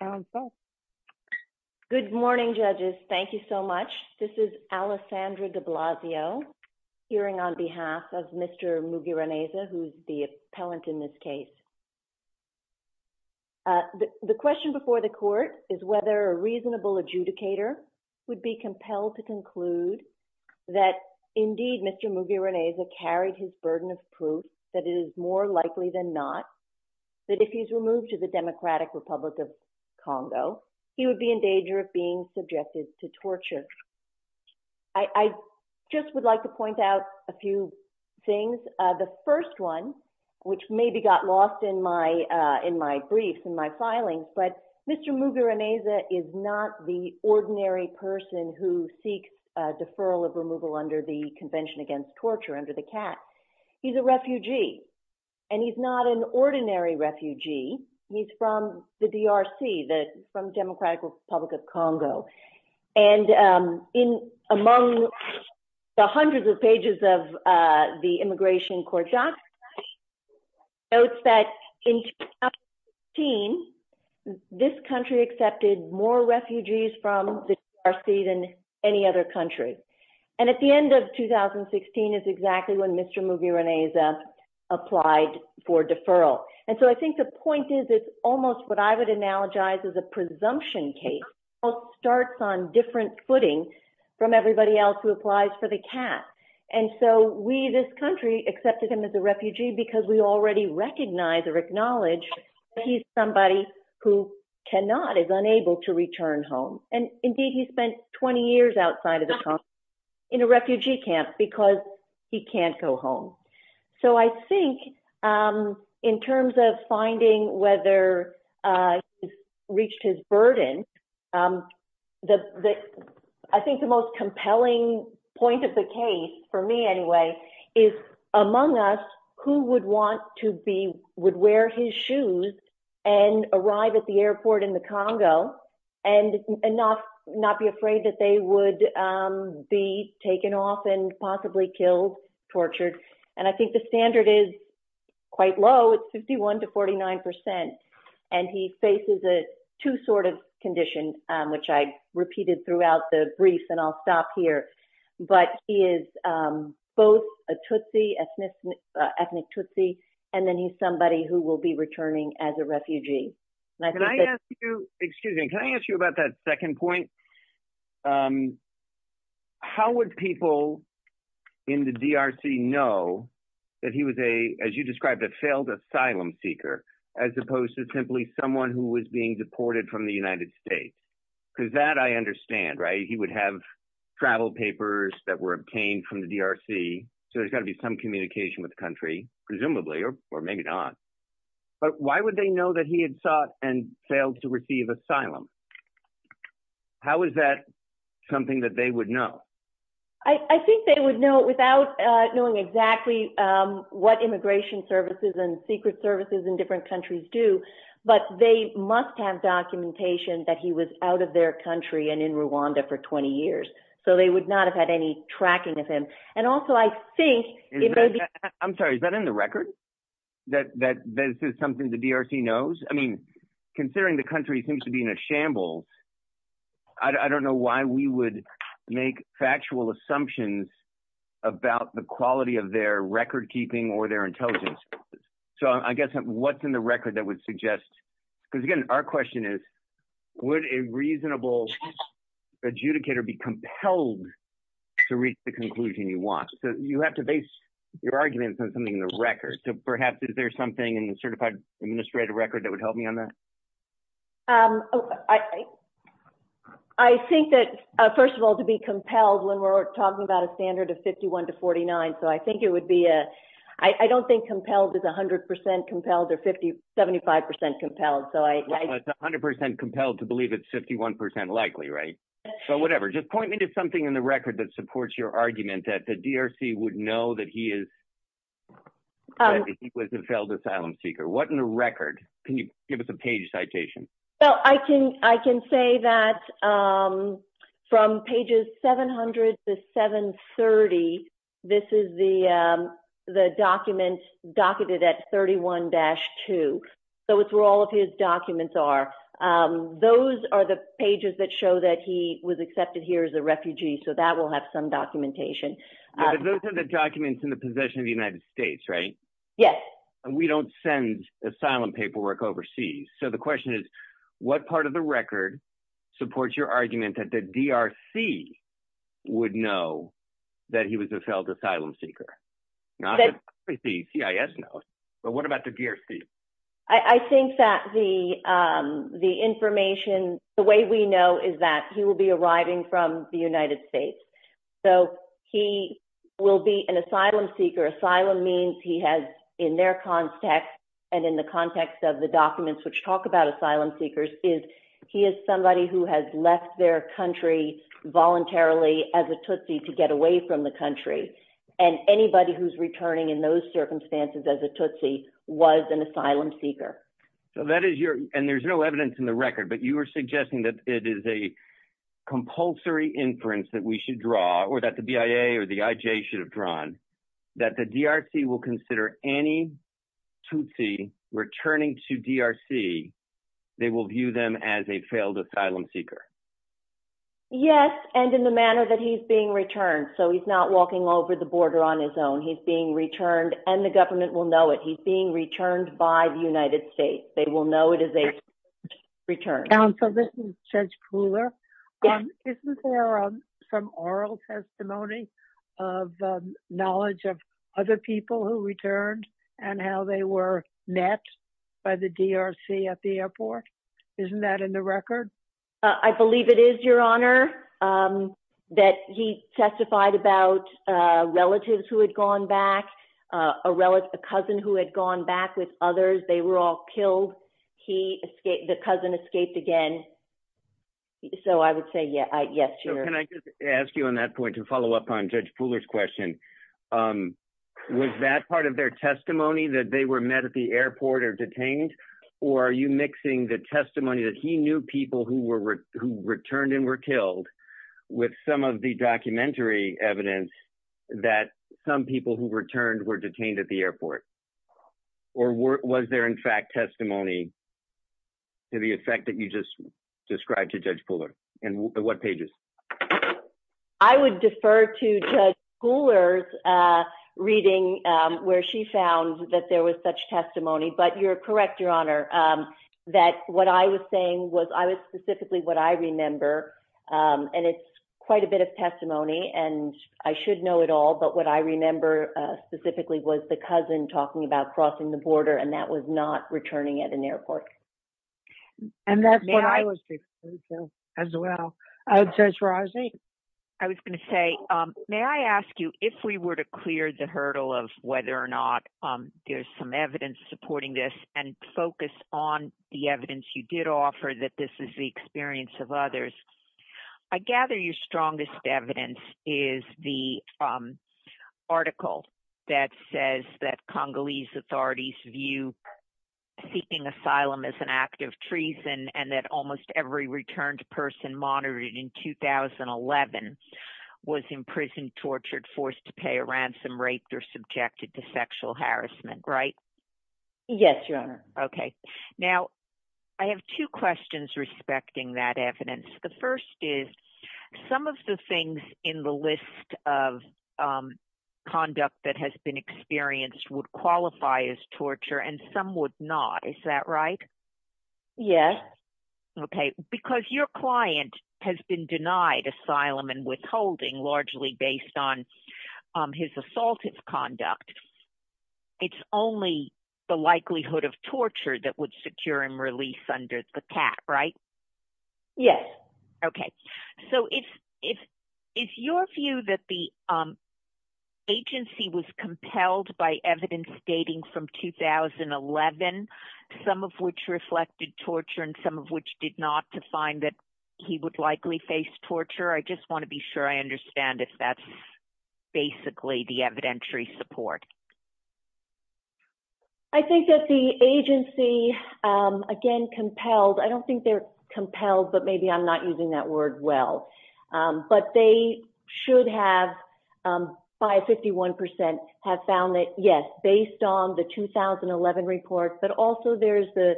Counsel. Good morning, judges. Thank you so much. This is Alessandra de Blasio, hearing on behalf of Mr. Mugiraneza, who is the appellant in this case. The question before the court is whether a reasonable adjudicator would be compelled to conclude that, indeed, Mr. Mugiraneza carried his burden of proof that it is more likely than not that if he's removed to the Democratic Republic of Congo, he would be in danger of being subjected to torture. I just would like to point out a few things. The first one, which maybe got lost in my briefs, in my filing, but Mr. Mugiraneza is not the ordinary person who seeks a deferral of removal under the Convention Against Torture, under the CAT. He's a refugee, and he's not an ordinary refugee, he's from the DRC, the Democratic Republic of Congo. And among the hundreds of pages of the Immigration Court documents, it notes that in 2016, this is the first time that we've had refugees from the DRC than any other country. And at the end of 2016 is exactly when Mr. Mugiraneza applied for deferral. And so I think the point is, it's almost what I would analogize as a presumption case. It starts on different footing from everybody else who applies for the CAT. And so we, this country, accepted him as a refugee because we already recognize or acknowledge that he's somebody who cannot, is unable to return home. And indeed, he spent 20 years outside of the country in a refugee camp because he can't go home. So I think in terms of finding whether he's reached his burden, I think the most compelling point of the case, for me anyway, is among us, who would want to be, would wear his shoes and arrive at the airport in the Congo, and not be afraid that they would be taken off and possibly killed, tortured. And I think the standard is quite low, it's 51 to 49%. And he faces a two-sorted condition, which I repeated throughout the brief, and I'll stop here. But he is both a Tutsi, ethnic Tutsi, and then he's somebody who will be returning as a refugee. And I think that- Can I ask you, excuse me, can I ask you about that second point? How would people in the DRC know that he was a, as you described, a failed asylum seeker, as opposed to simply someone who was being deported from the United States? Because that I understand, right? He would have travel papers that were obtained from the DRC, so there's got to be some communication with the country, presumably, or maybe not. But why would they know that he had sought and failed to receive asylum? How is that something that they would know? I think they would know without knowing exactly what immigration services and secret services in different countries do, but they must have documentation that he was out of their country and in Rwanda for 20 years. So they would not have had any tracking of him. And also, I think- I'm sorry, is that in the record? That this is something the DRC knows? I mean, considering the country seems to be in a shambles, I don't know why we would make factual assumptions about the quality of their record keeping or their intelligence. So I guess what's in the record that would suggest, because again, our question is, would a reasonable adjudicator be compelled to reach the conclusion you want? So you have to base your arguments on something in the record. So perhaps, is there something in the certified administrative record that would help me on that? I think that, first of all, to be compelled when we're talking about a standard of 51 to 49. So I think it would be a- I don't think compelled is 100% compelled or 75% compelled. It's 100% compelled to believe it's 51% likely, right? So whatever. Just point me to something in the record that supports your argument that the DRC would know that he is- that he was a failed asylum seeker. What in the record? Can you give us a page citation? Well, I can say that from pages 700 to 730, this is the document docketed at 31-2. So it's where all of his documents are. Those are the pages that show that he was accepted here as a refugee. So that will have some documentation. But those are the documents in the possession of the United States, right? Yes. And we don't send asylum paperwork overseas. So the question is, what part of the record supports your argument that the DRC would know that he was a failed asylum seeker? Not that the CIS knows. But what about the DRC? I think that the information, the way we know is that he will be arriving from the United States. So he will be an asylum seeker. Asylum means he has, in their context and in the context of the documents which talk about asylum seekers, is he is somebody who has left their country voluntarily as a Tutsi to get away from the country. And anybody who's returning in those circumstances as a Tutsi was an asylum seeker. So that is your, and there's no evidence in the record, but you are suggesting that it is a compulsory inference that we should draw, or that the BIA or the IJ should have drawn, that the DRC will consider any Tutsi returning to DRC, they will view them as a failed asylum seeker. Yes, and in the manner that he's being returned. So he's not walking over the border on his own. He's being returned, and the government will know it. He's being returned by the United States. They will know it as a Tutsi return. Counsel, this is Judge Kuhler. Yes. Isn't there some oral testimony of knowledge of other people who returned and how they were met by the DRC at the airport? Isn't that in the record? I believe it is, Your Honor, that he testified about relatives who had gone back, a cousin who had gone back with others. They were all killed. He escaped, the cousin escaped again. So I would say, yes, Your Honor. So can I just ask you on that point to follow up on Judge Kuhler's question, was that part of their testimony that they were met at the airport or detained, or are you mixing the people who returned and were killed with some of the documentary evidence that some people who returned were detained at the airport? Or was there, in fact, testimony to the effect that you just described to Judge Kuhler? And what pages? I would defer to Judge Kuhler's reading where she found that there was such testimony. But you're correct, Your Honor, that what I was saying was, I was specifically what I remember, and it's quite a bit of testimony, and I should know it all. But what I remember specifically was the cousin talking about crossing the border, and that was not returning at an airport. And that's what I was referring to as well. Judge Rosny? I was going to say, may I ask you, if we were to clear the hurdle of whether or not there's some evidence supporting this, and focus on the evidence you did offer that this is the experience of others, I gather your strongest evidence is the article that says that Congolese authorities view seeking asylum as an act of treason, and that almost every returned person monitored in 2011 was imprisoned, tortured, forced to pay a ransom, raped, or subjected to sexual harassment, right? Yes, Your Honor. Okay. Now, I have two questions respecting that evidence. The first is, some of the things in the list of conduct that has been experienced would qualify as torture, and some would not, is that right? Yes. Okay. Because your client has been denied asylum and withholding, largely based on his assaultive conduct, it's only the likelihood of torture that would secure him release under the cap, right? Yes. Okay. So, is your view that the agency was compelled by evidence dating from 2011, some of which reflected torture and some of which did not, to find that he would likely face torture? I just want to be sure I understand if that's basically the evidentiary support. I think that the agency, again, compelled, I don't think they're compelled, but maybe I'm not using that word well, but they should have, by 51%, have found that, yes, based on the 2011 report, but also there's the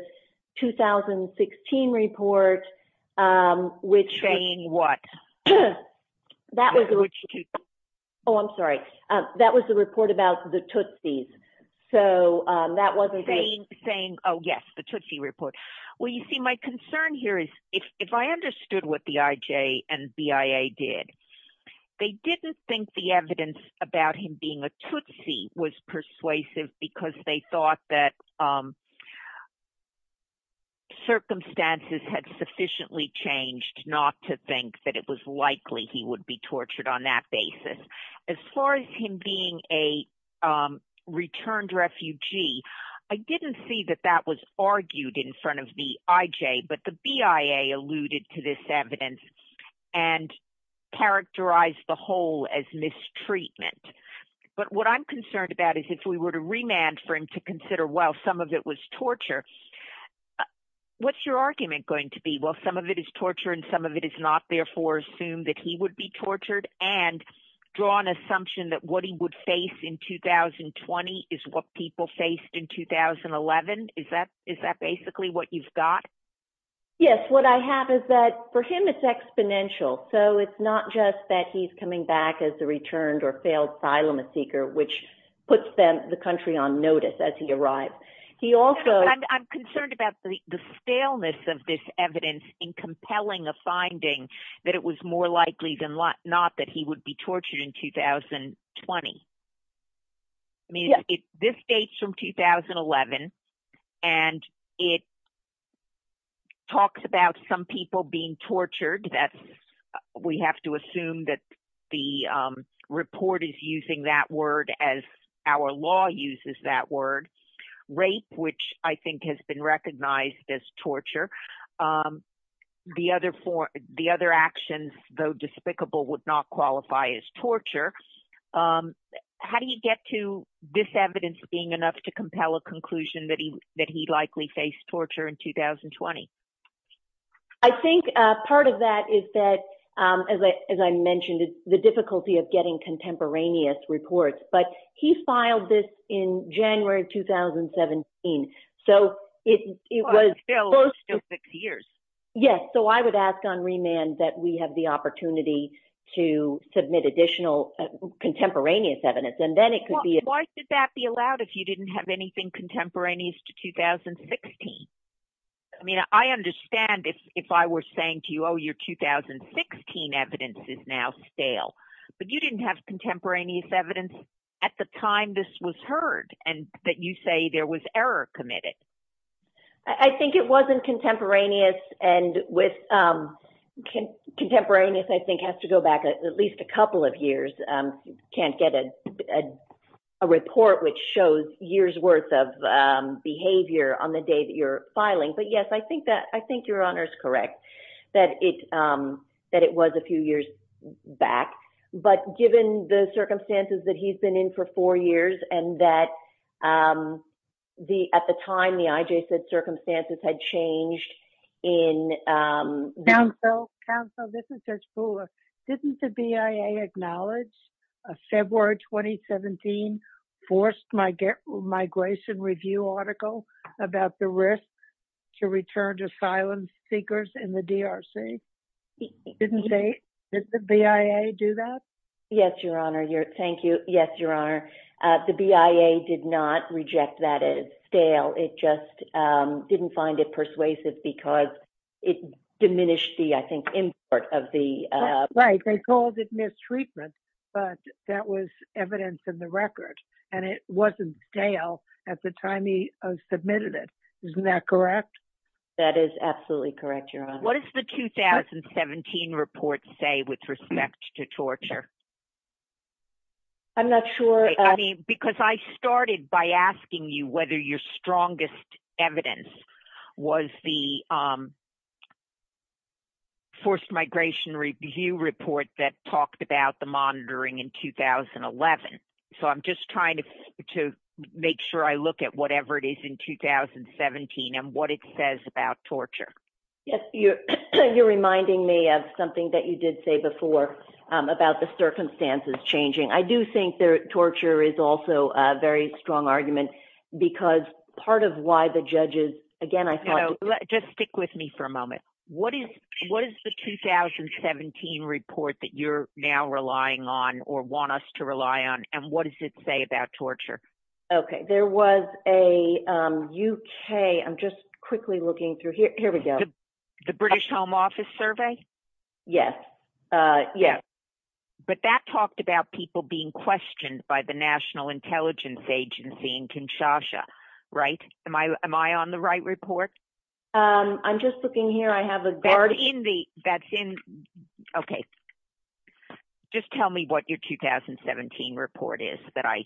2016 report, which- Saying what? Which two? Oh, I'm sorry. That was the report about the Tootsies, so that wasn't the- Saying, oh, yes, the Tootsie report. Well, you see, my concern here is, if I understood what the IJ and BIA did, they didn't think the evidence about him being a Tootsie was persuasive because they thought that circumstances had sufficiently changed not to think that it was likely he would be tortured on that basis. As far as him being a returned refugee, I didn't see that that was argued in front of the IJ, but the BIA alluded to this evidence and characterized the whole as mistreatment. But what I'm concerned about is, if we were to remand for him to consider, well, some of it was torture, what's your argument going to be? Well, some of it is torture and some of it is not, therefore, assume that he would be tortured and draw an assumption that what he would face in 2020 is what people faced in 2011? Is that basically what you've got? Yes, what I have is that, for him, it's exponential. So it's not just that he's coming back as the returned or failed asylum seeker, which puts the country on notice as he arrives. He also... But I'm concerned about the staleness of this evidence in compelling a finding that it was more likely than not that he would be tortured in 2020. I mean, this dates from 2011, and it talks about some people being tortured. That's... We have to assume that the report is using that word as our law uses that word. Rape, which I think has been recognized as torture. The other actions, though despicable, would not qualify as torture. How do you get to this evidence being enough to compel a conclusion that he likely faced torture in 2020? I think part of that is that, as I mentioned, it's the difficulty of getting contemporaneous reports. But he filed this in January of 2017. So it was... Well, it's still six years. Yes, so I would ask on remand that we have the opportunity to submit additional contemporaneous evidence, and then it could be... Why should that be allowed if you didn't have anything contemporaneous to 2016? I mean, I understand if I were saying to you, oh, your 2016 evidence is now stale, but you didn't have contemporaneous evidence at the time this was heard, and that you say there was error committed. I think it wasn't contemporaneous, and with... Contemporaneous, I think, has to go back at least a couple of years. Can't get a report which shows years' worth of behavior on the day that you're filing. But yes, I think your honor's correct, that it was a few years back. But given the circumstances that he's been in for four years, and that at the time, the IJ said circumstances had changed in... Counsel, this is Judge Fuller. Didn't the BIA acknowledge a February 2017 forced migration review article about the risk to return to asylum seekers in the DRC? Didn't they? Did the BIA do that? Yes, your honor. Thank you. Yes, your honor. The BIA did not reject that as stale. It just didn't find it persuasive because it diminished the, I think, import of the... Right. They called it mistreatment, but that was evidence in the record, and it wasn't stale at the time he submitted it. Isn't that correct? That is absolutely correct, your honor. What does the 2017 report say with respect to torture? I'm not sure... Because I started by asking you whether your strongest evidence was the forced migration review report that talked about the monitoring in 2011. So I'm just trying to make sure I look at whatever it is in 2017 and what it says about torture. You're reminding me of something that you did say before about the circumstances changing. I do think that torture is also a very strong argument because part of why the judges... Again, I thought... Just stick with me for a moment. What is the 2017 report that you're now relying on or want us to rely on? And what does it say about torture? Okay. There was a UK... I'm just quickly looking through. Here we go. The British Home Office survey? Yes. Yes. But that talked about people being questioned by the National Intelligence Agency in Kinshasa, right? Am I on the right report? I'm just looking here. I have a... That's in... Okay. Just tell me what your 2017 report is that I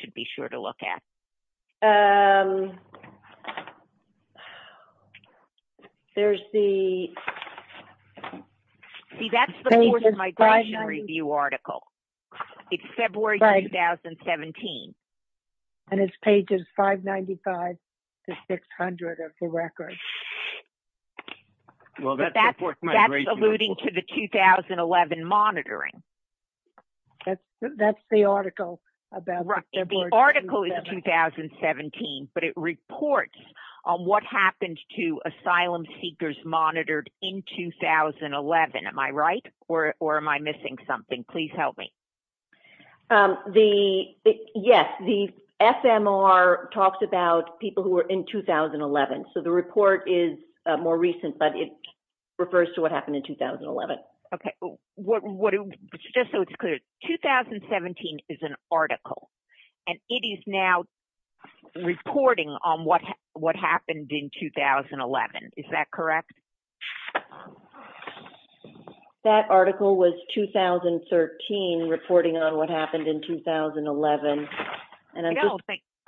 should be sure to look at. There's the... See, that's the Forced Migration Review article. It's February 2017. And it's pages 595 to 600 of the record. Well, that's the Forced Migration Review. That's alluding to the 2011 monitoring. That's the article about February 2017. Right. The article is 2017, but it reports on what happened to asylum seekers monitored in 2011. Am I right or am I missing something? Please help me. Yes. The FMR talks about people who were in 2011. So the report is more recent, but it refers to what happened in 2011. Okay. Just so it's clear, 2017 is an article and it is now reporting on what happened in 2011. Is that correct? That article was 2013, reporting on what happened in 2011.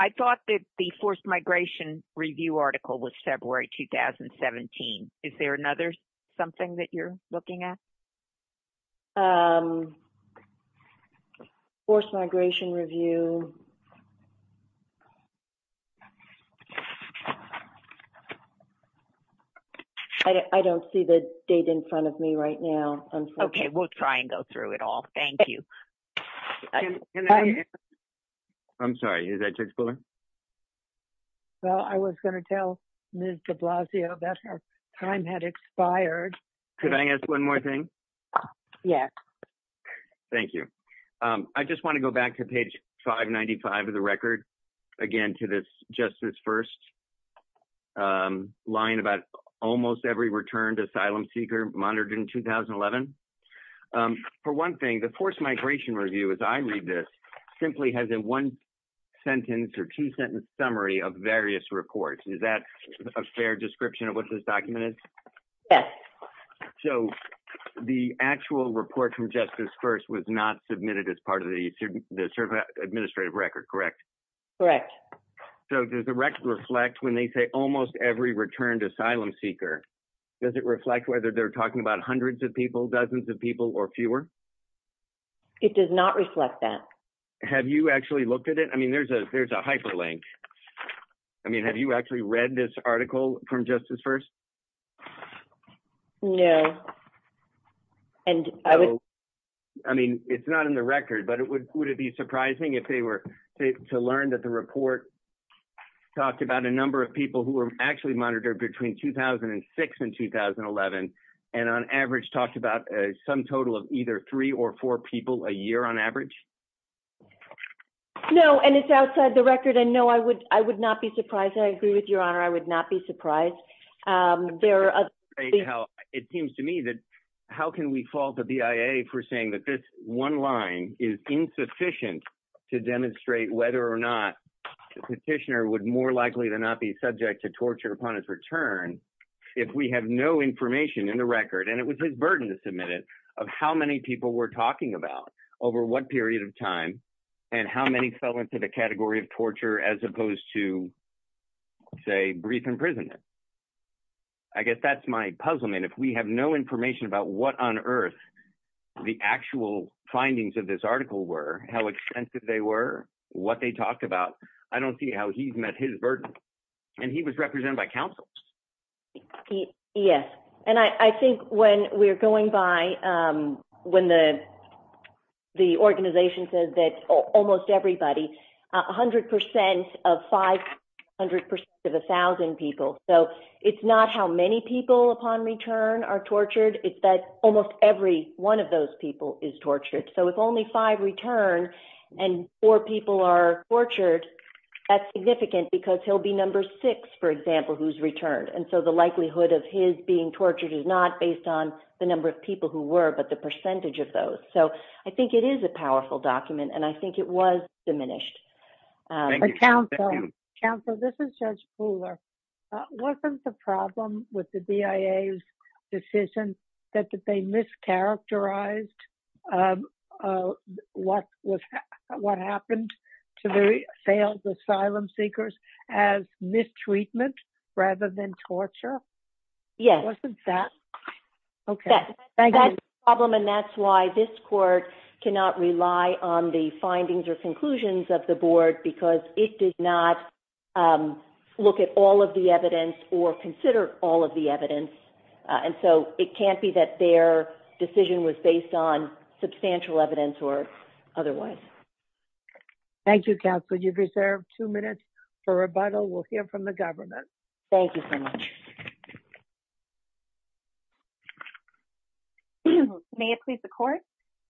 I thought that the Forced Migration Review article was February 2017. Is there another something that you're looking at? Forced Migration Review. I don't see the date in front of me right now. Okay. We'll try and go through it all. Thank you. I'm sorry. Is that Judge Fuller? Well, I was going to tell Ms. de Blasio that her time had expired. Could I ask one more thing? Yes. Thank you. I just want to go back to page 595 of the record, again, to this Justice First line about almost every returned asylum seeker monitored in 2011. For one thing, the Forced Migration Review, as I read this, simply has a one sentence or two sentence summary of various reports. Is that a fair description of what this document is? Yes. So, the actual report from Justice First was not submitted as part of the administrative record, correct? Correct. So, does the record reflect when they say almost every returned asylum seeker, does it reflect whether they're talking about hundreds of people, dozens of people, or fewer? It does not reflect that. Have you actually looked at it? I mean, there's a hyperlink. I mean, have you actually read this article from Justice First? No. I mean, it's not in the record. But would it be surprising if they were to learn that the report talked about a number of people who were actually monitored between 2006 and 2011, and on average talked about some total of either three or four people a year on average? No, and it's outside the record. And no, I would not be surprised. I agree with Your Honor. I would not be surprised. There are other... It seems to me that how can we fault the BIA for saying that this one line is insufficient to demonstrate whether or not the petitioner would more likely than not be subject to torture upon his return if we have no information in the record, and it was his burden to submit it, of how many people were talking about over what period of time, and how many fell into the category of torture as opposed to, say, brief imprisonment. I guess that's my puzzlement. If we have no information about what on earth the actual findings of this article were, how extensive they were, what they talked about, I don't see how he's met his burden. And he was represented by counsel. Yes. And I think when we're going by, when the organization says that almost everybody, 100% of 500% of 1,000 people. It's not how many people upon return are tortured, it's that almost every one of those people is tortured. So if only five return and four people are tortured, that's significant because he'll be number six, for example, who's returned. And so the likelihood of his being tortured is not based on the number of people who were, but the percentage of those. So I think it is a powerful document, and I think it was diminished. Counsel, this is Judge Fuller. Wasn't the problem with the BIA's decision that they mischaracterized what happened to the failed asylum seekers as mistreatment rather than torture? Yes. Wasn't that? Okay. That's the problem, and that's why this court cannot rely on the findings or consider all of the evidence. And so it can't be that their decision was based on substantial evidence or otherwise. Thank you, counsel. You've reserved two minutes for rebuttal. We'll hear from the government. Thank you so much. May it please the court.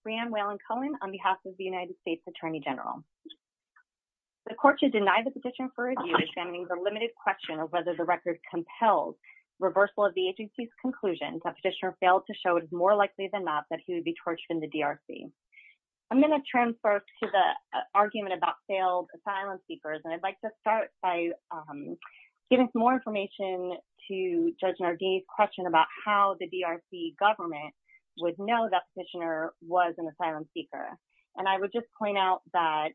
Breanne Whalen-Cohen on behalf of the United States Attorney General. The court should deny the petition for review examining the limited question of record compels reversal of the agency's conclusion that petitioner failed to show more likely than not that he would be tortured in the DRC. I'm going to transfer to the argument about failed asylum seekers, and I'd like to start by giving some more information to Judge Nardini's question about how the DRC government would know that the petitioner was an asylum seeker. And I would just point out that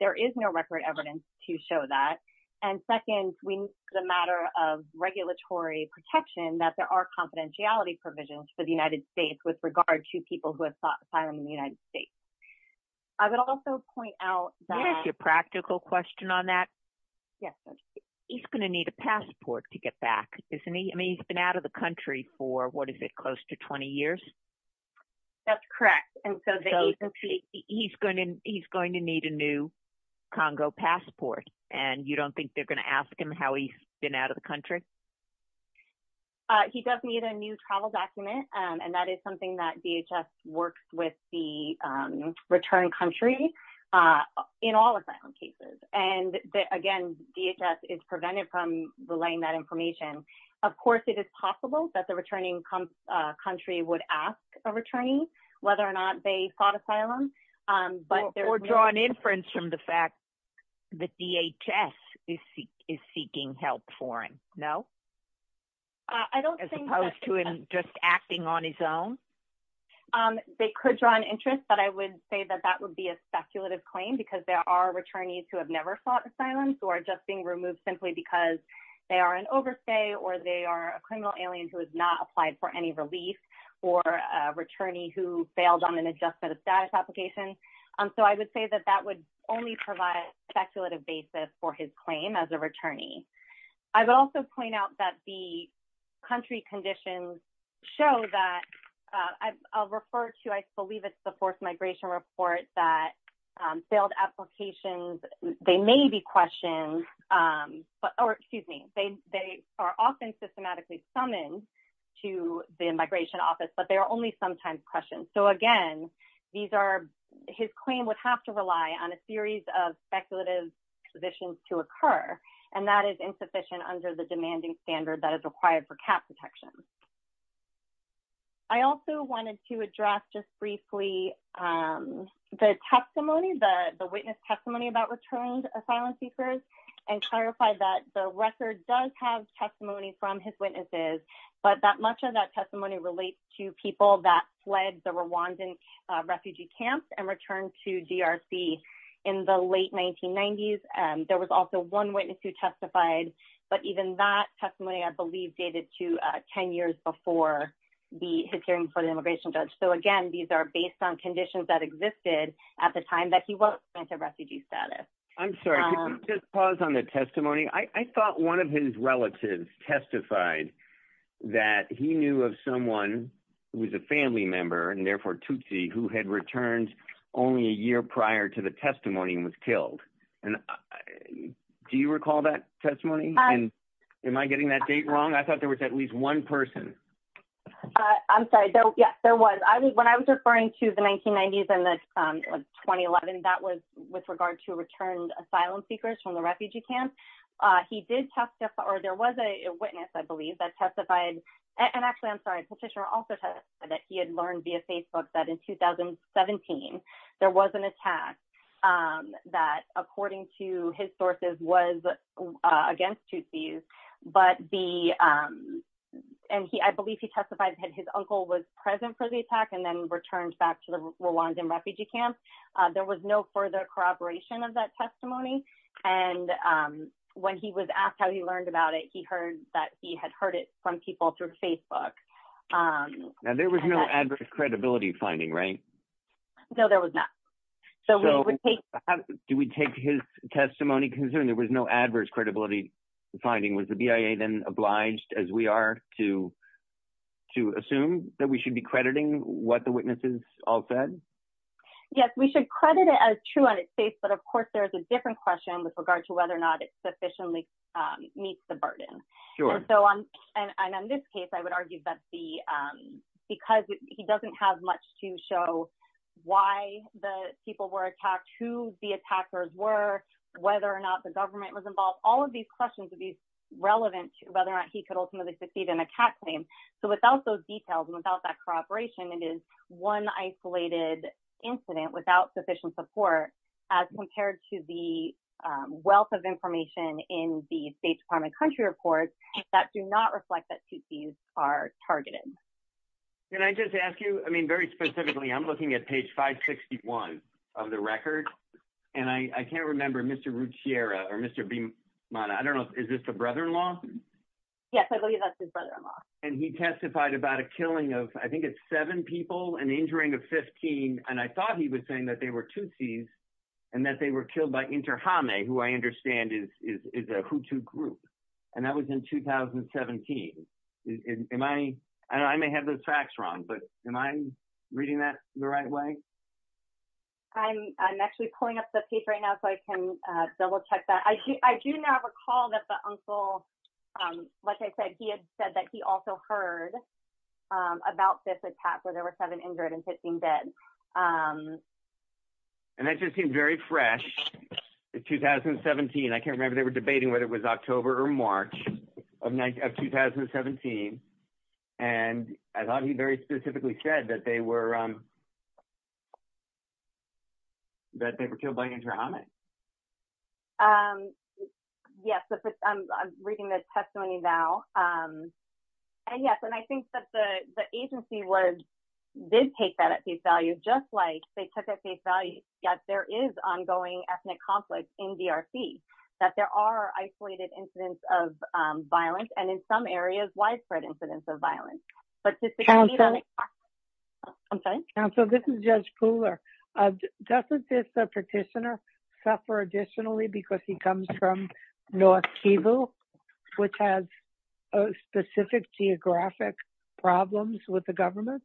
there is no record evidence to show that. And second, the matter of regulatory protection, that there are confidentiality provisions for the United States with regard to people who have sought asylum in the United States. I would also point out that. Do you have a practical question on that? Yes. He's going to need a passport to get back, isn't he? I mean, he's been out of the country for, what is it, close to 20 years? That's correct. And so he's going to need a new Congo passport. And you don't think they're going to ask him how he's been out of the country? He does need a new travel document. And that is something that DHS works with the return country in all asylum cases. And again, DHS is prevented from relaying that information. Of course, it is possible that the returning country would ask a returnee whether or not they sought asylum. Or draw an inference from the fact that DHS is seeking help for him, no? As opposed to him just acting on his own? They could draw an interest. But I would say that that would be a speculative claim because there are returnees who have never sought asylum who are just being removed simply because they are an overstay or they are a criminal alien who has not applied for any relief or a returnee who failed on an adjustment of status application. So I would say that that would only provide a speculative basis for his claim as a returnee. I would also point out that the country conditions show that I'll refer to, I believe it's the forced migration report that failed applications, they may be questioned. Or excuse me, they are often systematically summoned to the migration office, but they are only sometimes questioned. So again, his claim would have to rely on a series of speculative conditions to occur. And that is insufficient under the demanding standard that is required for cap protection. I also wanted to address just briefly the testimony, the witness testimony about returned asylum seekers and clarify that the record does have testimony from his witnesses, but much of that testimony relates to people that fled the Rwandan refugee camps and returned to DRC in the late 1990s. There was also one witness who testified, but even that testimony, I believe, dated to 10 years before his hearing for the immigration judge. So again, these are based on conditions that existed at the time that he was a refugee status. I'm sorry, just pause on the testimony. I thought one of his relatives testified that he knew of someone who was a family member and therefore Tutsi who had returned only a year prior to the testimony and was killed. And do you recall that testimony? And am I getting that date wrong? I thought there was at least one person. I'm sorry. Yes, there was. When I was referring to the 1990s and the 2011, that was with regard to returned asylum seekers from the refugee camp, he did testify or there was a witness, I believe, that testified. And actually, I'm sorry, Petitioner also testified that he had learned via Facebook that in 2017, there was an attack that, according to his sources, was against Tutsis. And I believe he testified that his uncle was present for the attack and then returned back to the Rwandan refugee camp. There was no further corroboration of that testimony. And when he was asked how he learned about it, he heard that he had heard it from people through Facebook. Now, there was no adverse credibility finding, right? No, there was not. Do we take his testimony? Considering there was no adverse credibility finding, was the BIA then obliged, as we are, to assume that we should be crediting what the witnesses all said? Yes, we should credit it as true on its face. But of course, there's a different question with regard to whether or not it sufficiently meets the burden. And on this case, I would argue that because he doesn't have much to show why the people were attacked, who the attackers were, whether or not the government was involved, all of these questions would be relevant to whether or not he could ultimately succeed in a CAT claim. So without those details and without that corroboration, it is one isolated incident without sufficient support as compared to the wealth of information in the State Department country reports that do not reflect that Tutsis are targeted. Can I just ask you? I mean, very specifically, I'm looking at page 561 of the record, and I can't remember Mr. Ruchiera or Mr. Bimana. I don't know. Is this the brother-in-law? Yes, I believe that's his brother-in-law. And he testified about a killing of, I think it's seven people and injuring of 15. And I thought he was saying that they were Tutsis and that they were killed by Interhame, who I understand is a Hutu group. And that was in 2017. And I may have those facts wrong, but am I reading that the right way? I'm actually pulling up the paper right now so I can double check that. I do not recall that the uncle, like I said, he had said that he also heard about this attack where there were seven injured and 15 dead. And that just seemed very fresh in 2017. I can't remember, they were debating whether it was October or March of 2017. And I thought he very specifically said that they were killed by Interhame. Yes, I'm reading the testimony now. And yes, and I think that the agency did take that at face value, just like they took at face value that there is ongoing ethnic conflict in DRC, that there are isolated incidents of violence, and in some areas, widespread incidents of violence. But just to continue on the topic. I'm sorry? Counsel, this is Judge Kuhler. Doesn't this petitioner suffer additionally because he comes from North Kivu, which has specific geographic problems with the government?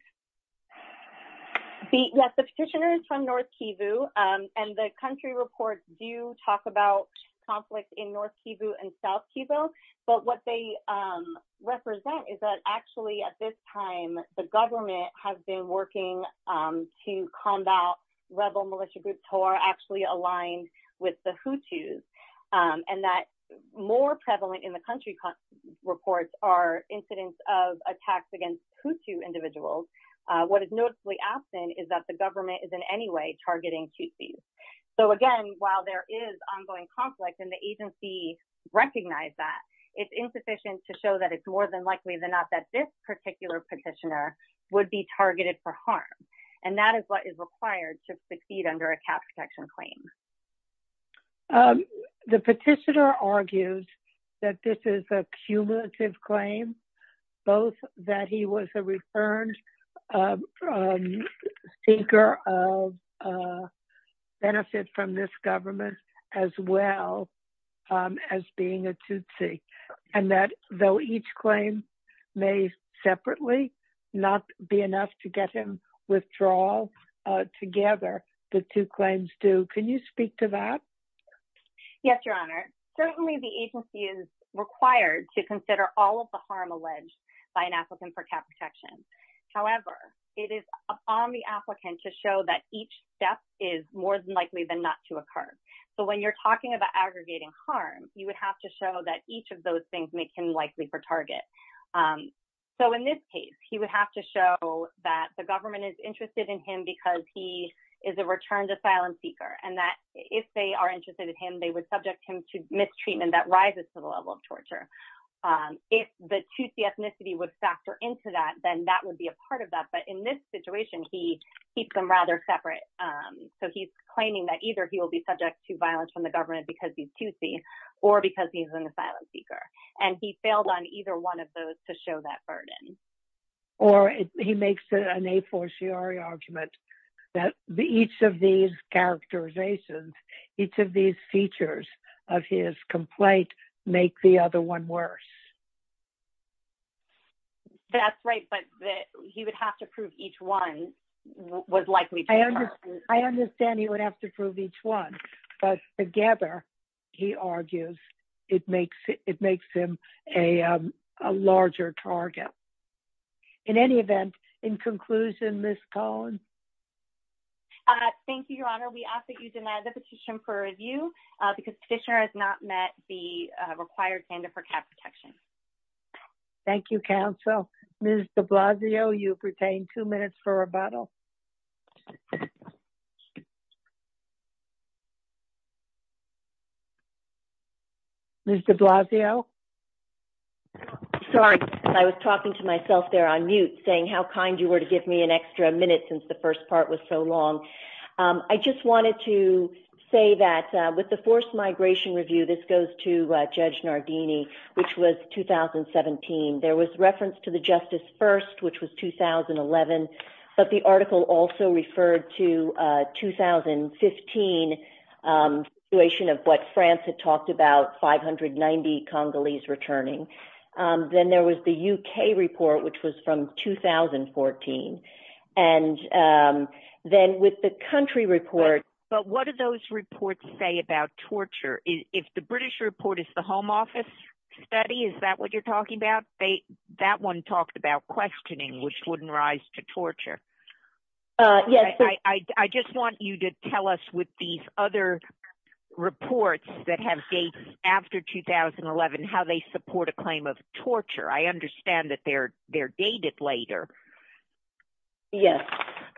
Yes, the petitioner is from North Kivu. And the country reports do talk about conflict in North Kivu and South Kivu. But what they represent is that actually at this time, the government has been working to combat rebel militia groups who are actually aligned with the Hutus, and that more prevalent in the country reports are incidents of attacks against Hutu individuals. What is noticeably absent is that the government is in any way targeting Hutus. So again, while there is ongoing conflict, and the agency recognized that, it's insufficient to show that it's more than likely than not that this particular petitioner would be targeted for harm. And that is what is required to succeed under a cap protection claim. The petitioner argues that this is a cumulative claim, both that he was a returned speaker of benefits from this government, as well as being a Tutsi. And that though each claim may separately not be enough to get him withdraw together, the two claims do. Can you speak to that? Yes, Your Honor. Certainly, the agency is required to consider all of the harm alleged by an applicant for cap protection. However, it is on the applicant to show that each step is more than likely than not to occur. So when you're talking about aggregating harm, you would have to show that each of those things make him likely for target. So in this case, he would have to show that the government is interested in him because he is a returned asylum seeker, and that if they are interested in him, they would subject him to mistreatment that rises to the level of torture. If the Tutsi ethnicity would factor into that, then that would be a part of that. But in this situation, he keeps them rather separate. So he's claiming that either he will be subject to violence from the government because he's Tutsi or because he's an asylum seeker. And he failed on either one of those to show that burden. Or he makes an a-for-siori argument that each of these characterizations, each of these features of his complaint make the other one worse. That's right. But he would have to prove each one was likely to occur. I understand he would have to prove each one. But together, he argues it makes it makes him a larger target. In any event, in conclusion, Ms. Cohn? Thank you, Your Honor. We ask that you deny the petition for review because petitioner has not met the required standard for cap protection. Thank you, counsel. Ms. de Blasio, you've retained two minutes for rebuttal. Ms. de Blasio? Sorry. I was talking to myself there on mute, saying how kind you were to give me an extra minute since the first part was so long. I just wanted to say that with the forced migration review, this goes to Judge Nardini, which was 2017. There was reference to the Justice First, which was 2011. But the article also referred to 2015, the situation of what France had talked about, 590 Congolese returning. Then there was the UK report, which was from 2014. And then with the country report— But what do those reports say about torture? If the British report is the Home Office study, is that what you're talking about? That one talked about questioning, which wouldn't rise to torture. I just want you to tell us with these other reports that have dates after 2011, how they support a claim of torture. I understand that they're dated later. Yes.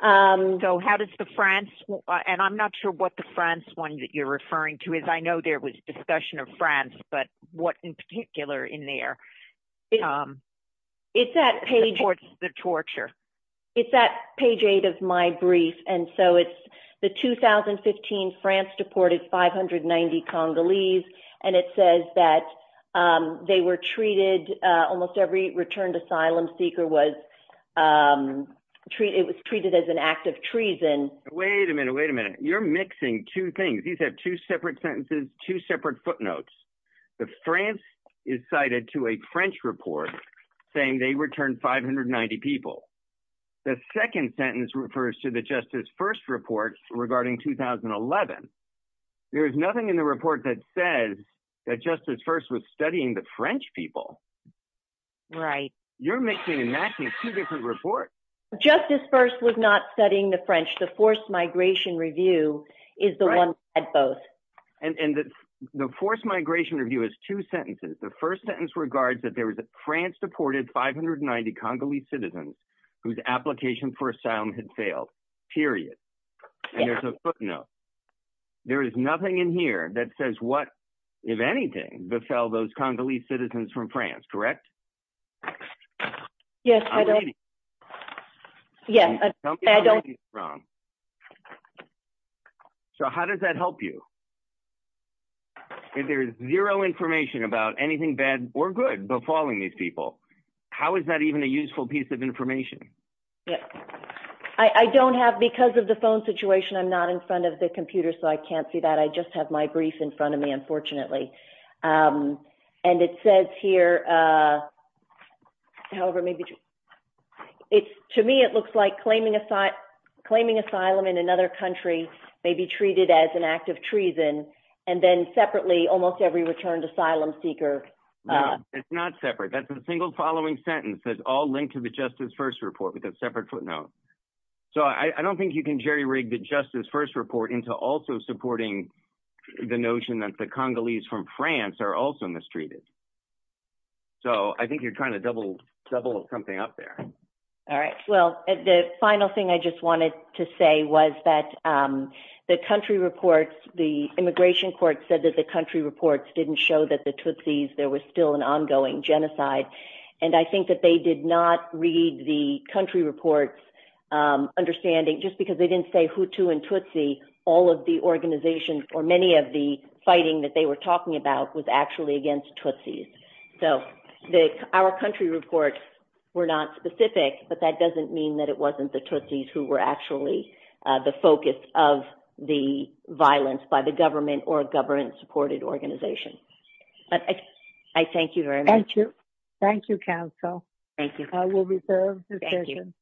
So how does the France—and I'm not sure what the France one that you're referring to is. I know there was discussion of France, but what in particular in there? It's that page— Supports the torture. It's that page 8 of my brief. And so it's the 2015 France deported 590 Congolese, and it says that they were treated—almost every returned asylum seeker was treated as an act of treason. Wait a minute. Wait a minute. You're mixing two things. These have two separate sentences, two separate footnotes. The France is cited to a French report saying they returned 590 people. The second sentence refers to the Justice First report regarding 2011. There is nothing in the report that says that Justice First was studying the French people. Right. You're mixing and matching two different reports. Justice First was not studying the French. The forced migration review is the one that had both. And the forced migration review has two sentences. The first sentence regards that there was a France deported 590 Congolese citizens whose application for asylum had failed, period. And there's a footnote. There is nothing in here that says what, if anything, befell those Congolese citizens from France, correct? Yes. So how does that help you? If there is zero information about anything bad or good befalling these people, how is that even a useful piece of information? Yes. I don't have, because of the phone situation, I'm not in front of the computer, so I can't see that. I just have my brief in front of me, unfortunately. And it says here, however, maybe to me it looks like claiming asylum in another country may be treated as an act of treason. And then separately, almost every returned asylum seeker. It's not separate. That's a single following sentence that's all linked to the Justice First report with a separate footnote. So I don't think you can jerry-rig the Justice First report into also supporting the notion that the Congolese from France are also mistreated. So I think you're kind of double something up there. All right. Well, the final thing I just wanted to say was that the country reports, the immigration court said that the country reports didn't show that the Tutsis, there was still an ongoing genocide. And I think that they did not read the country reports understanding, just because they didn't say Hutu and Tutsi, all of the organizations or many of the fighting that they were talking about was actually against Tutsis. So our country reports were not specific, but that doesn't mean that it wasn't the Tutsis who were actually the focus of the violence by the government or government-supported organization. I thank you very much. Thank you. Thank you, counsel. Thank you. I will reserve the session.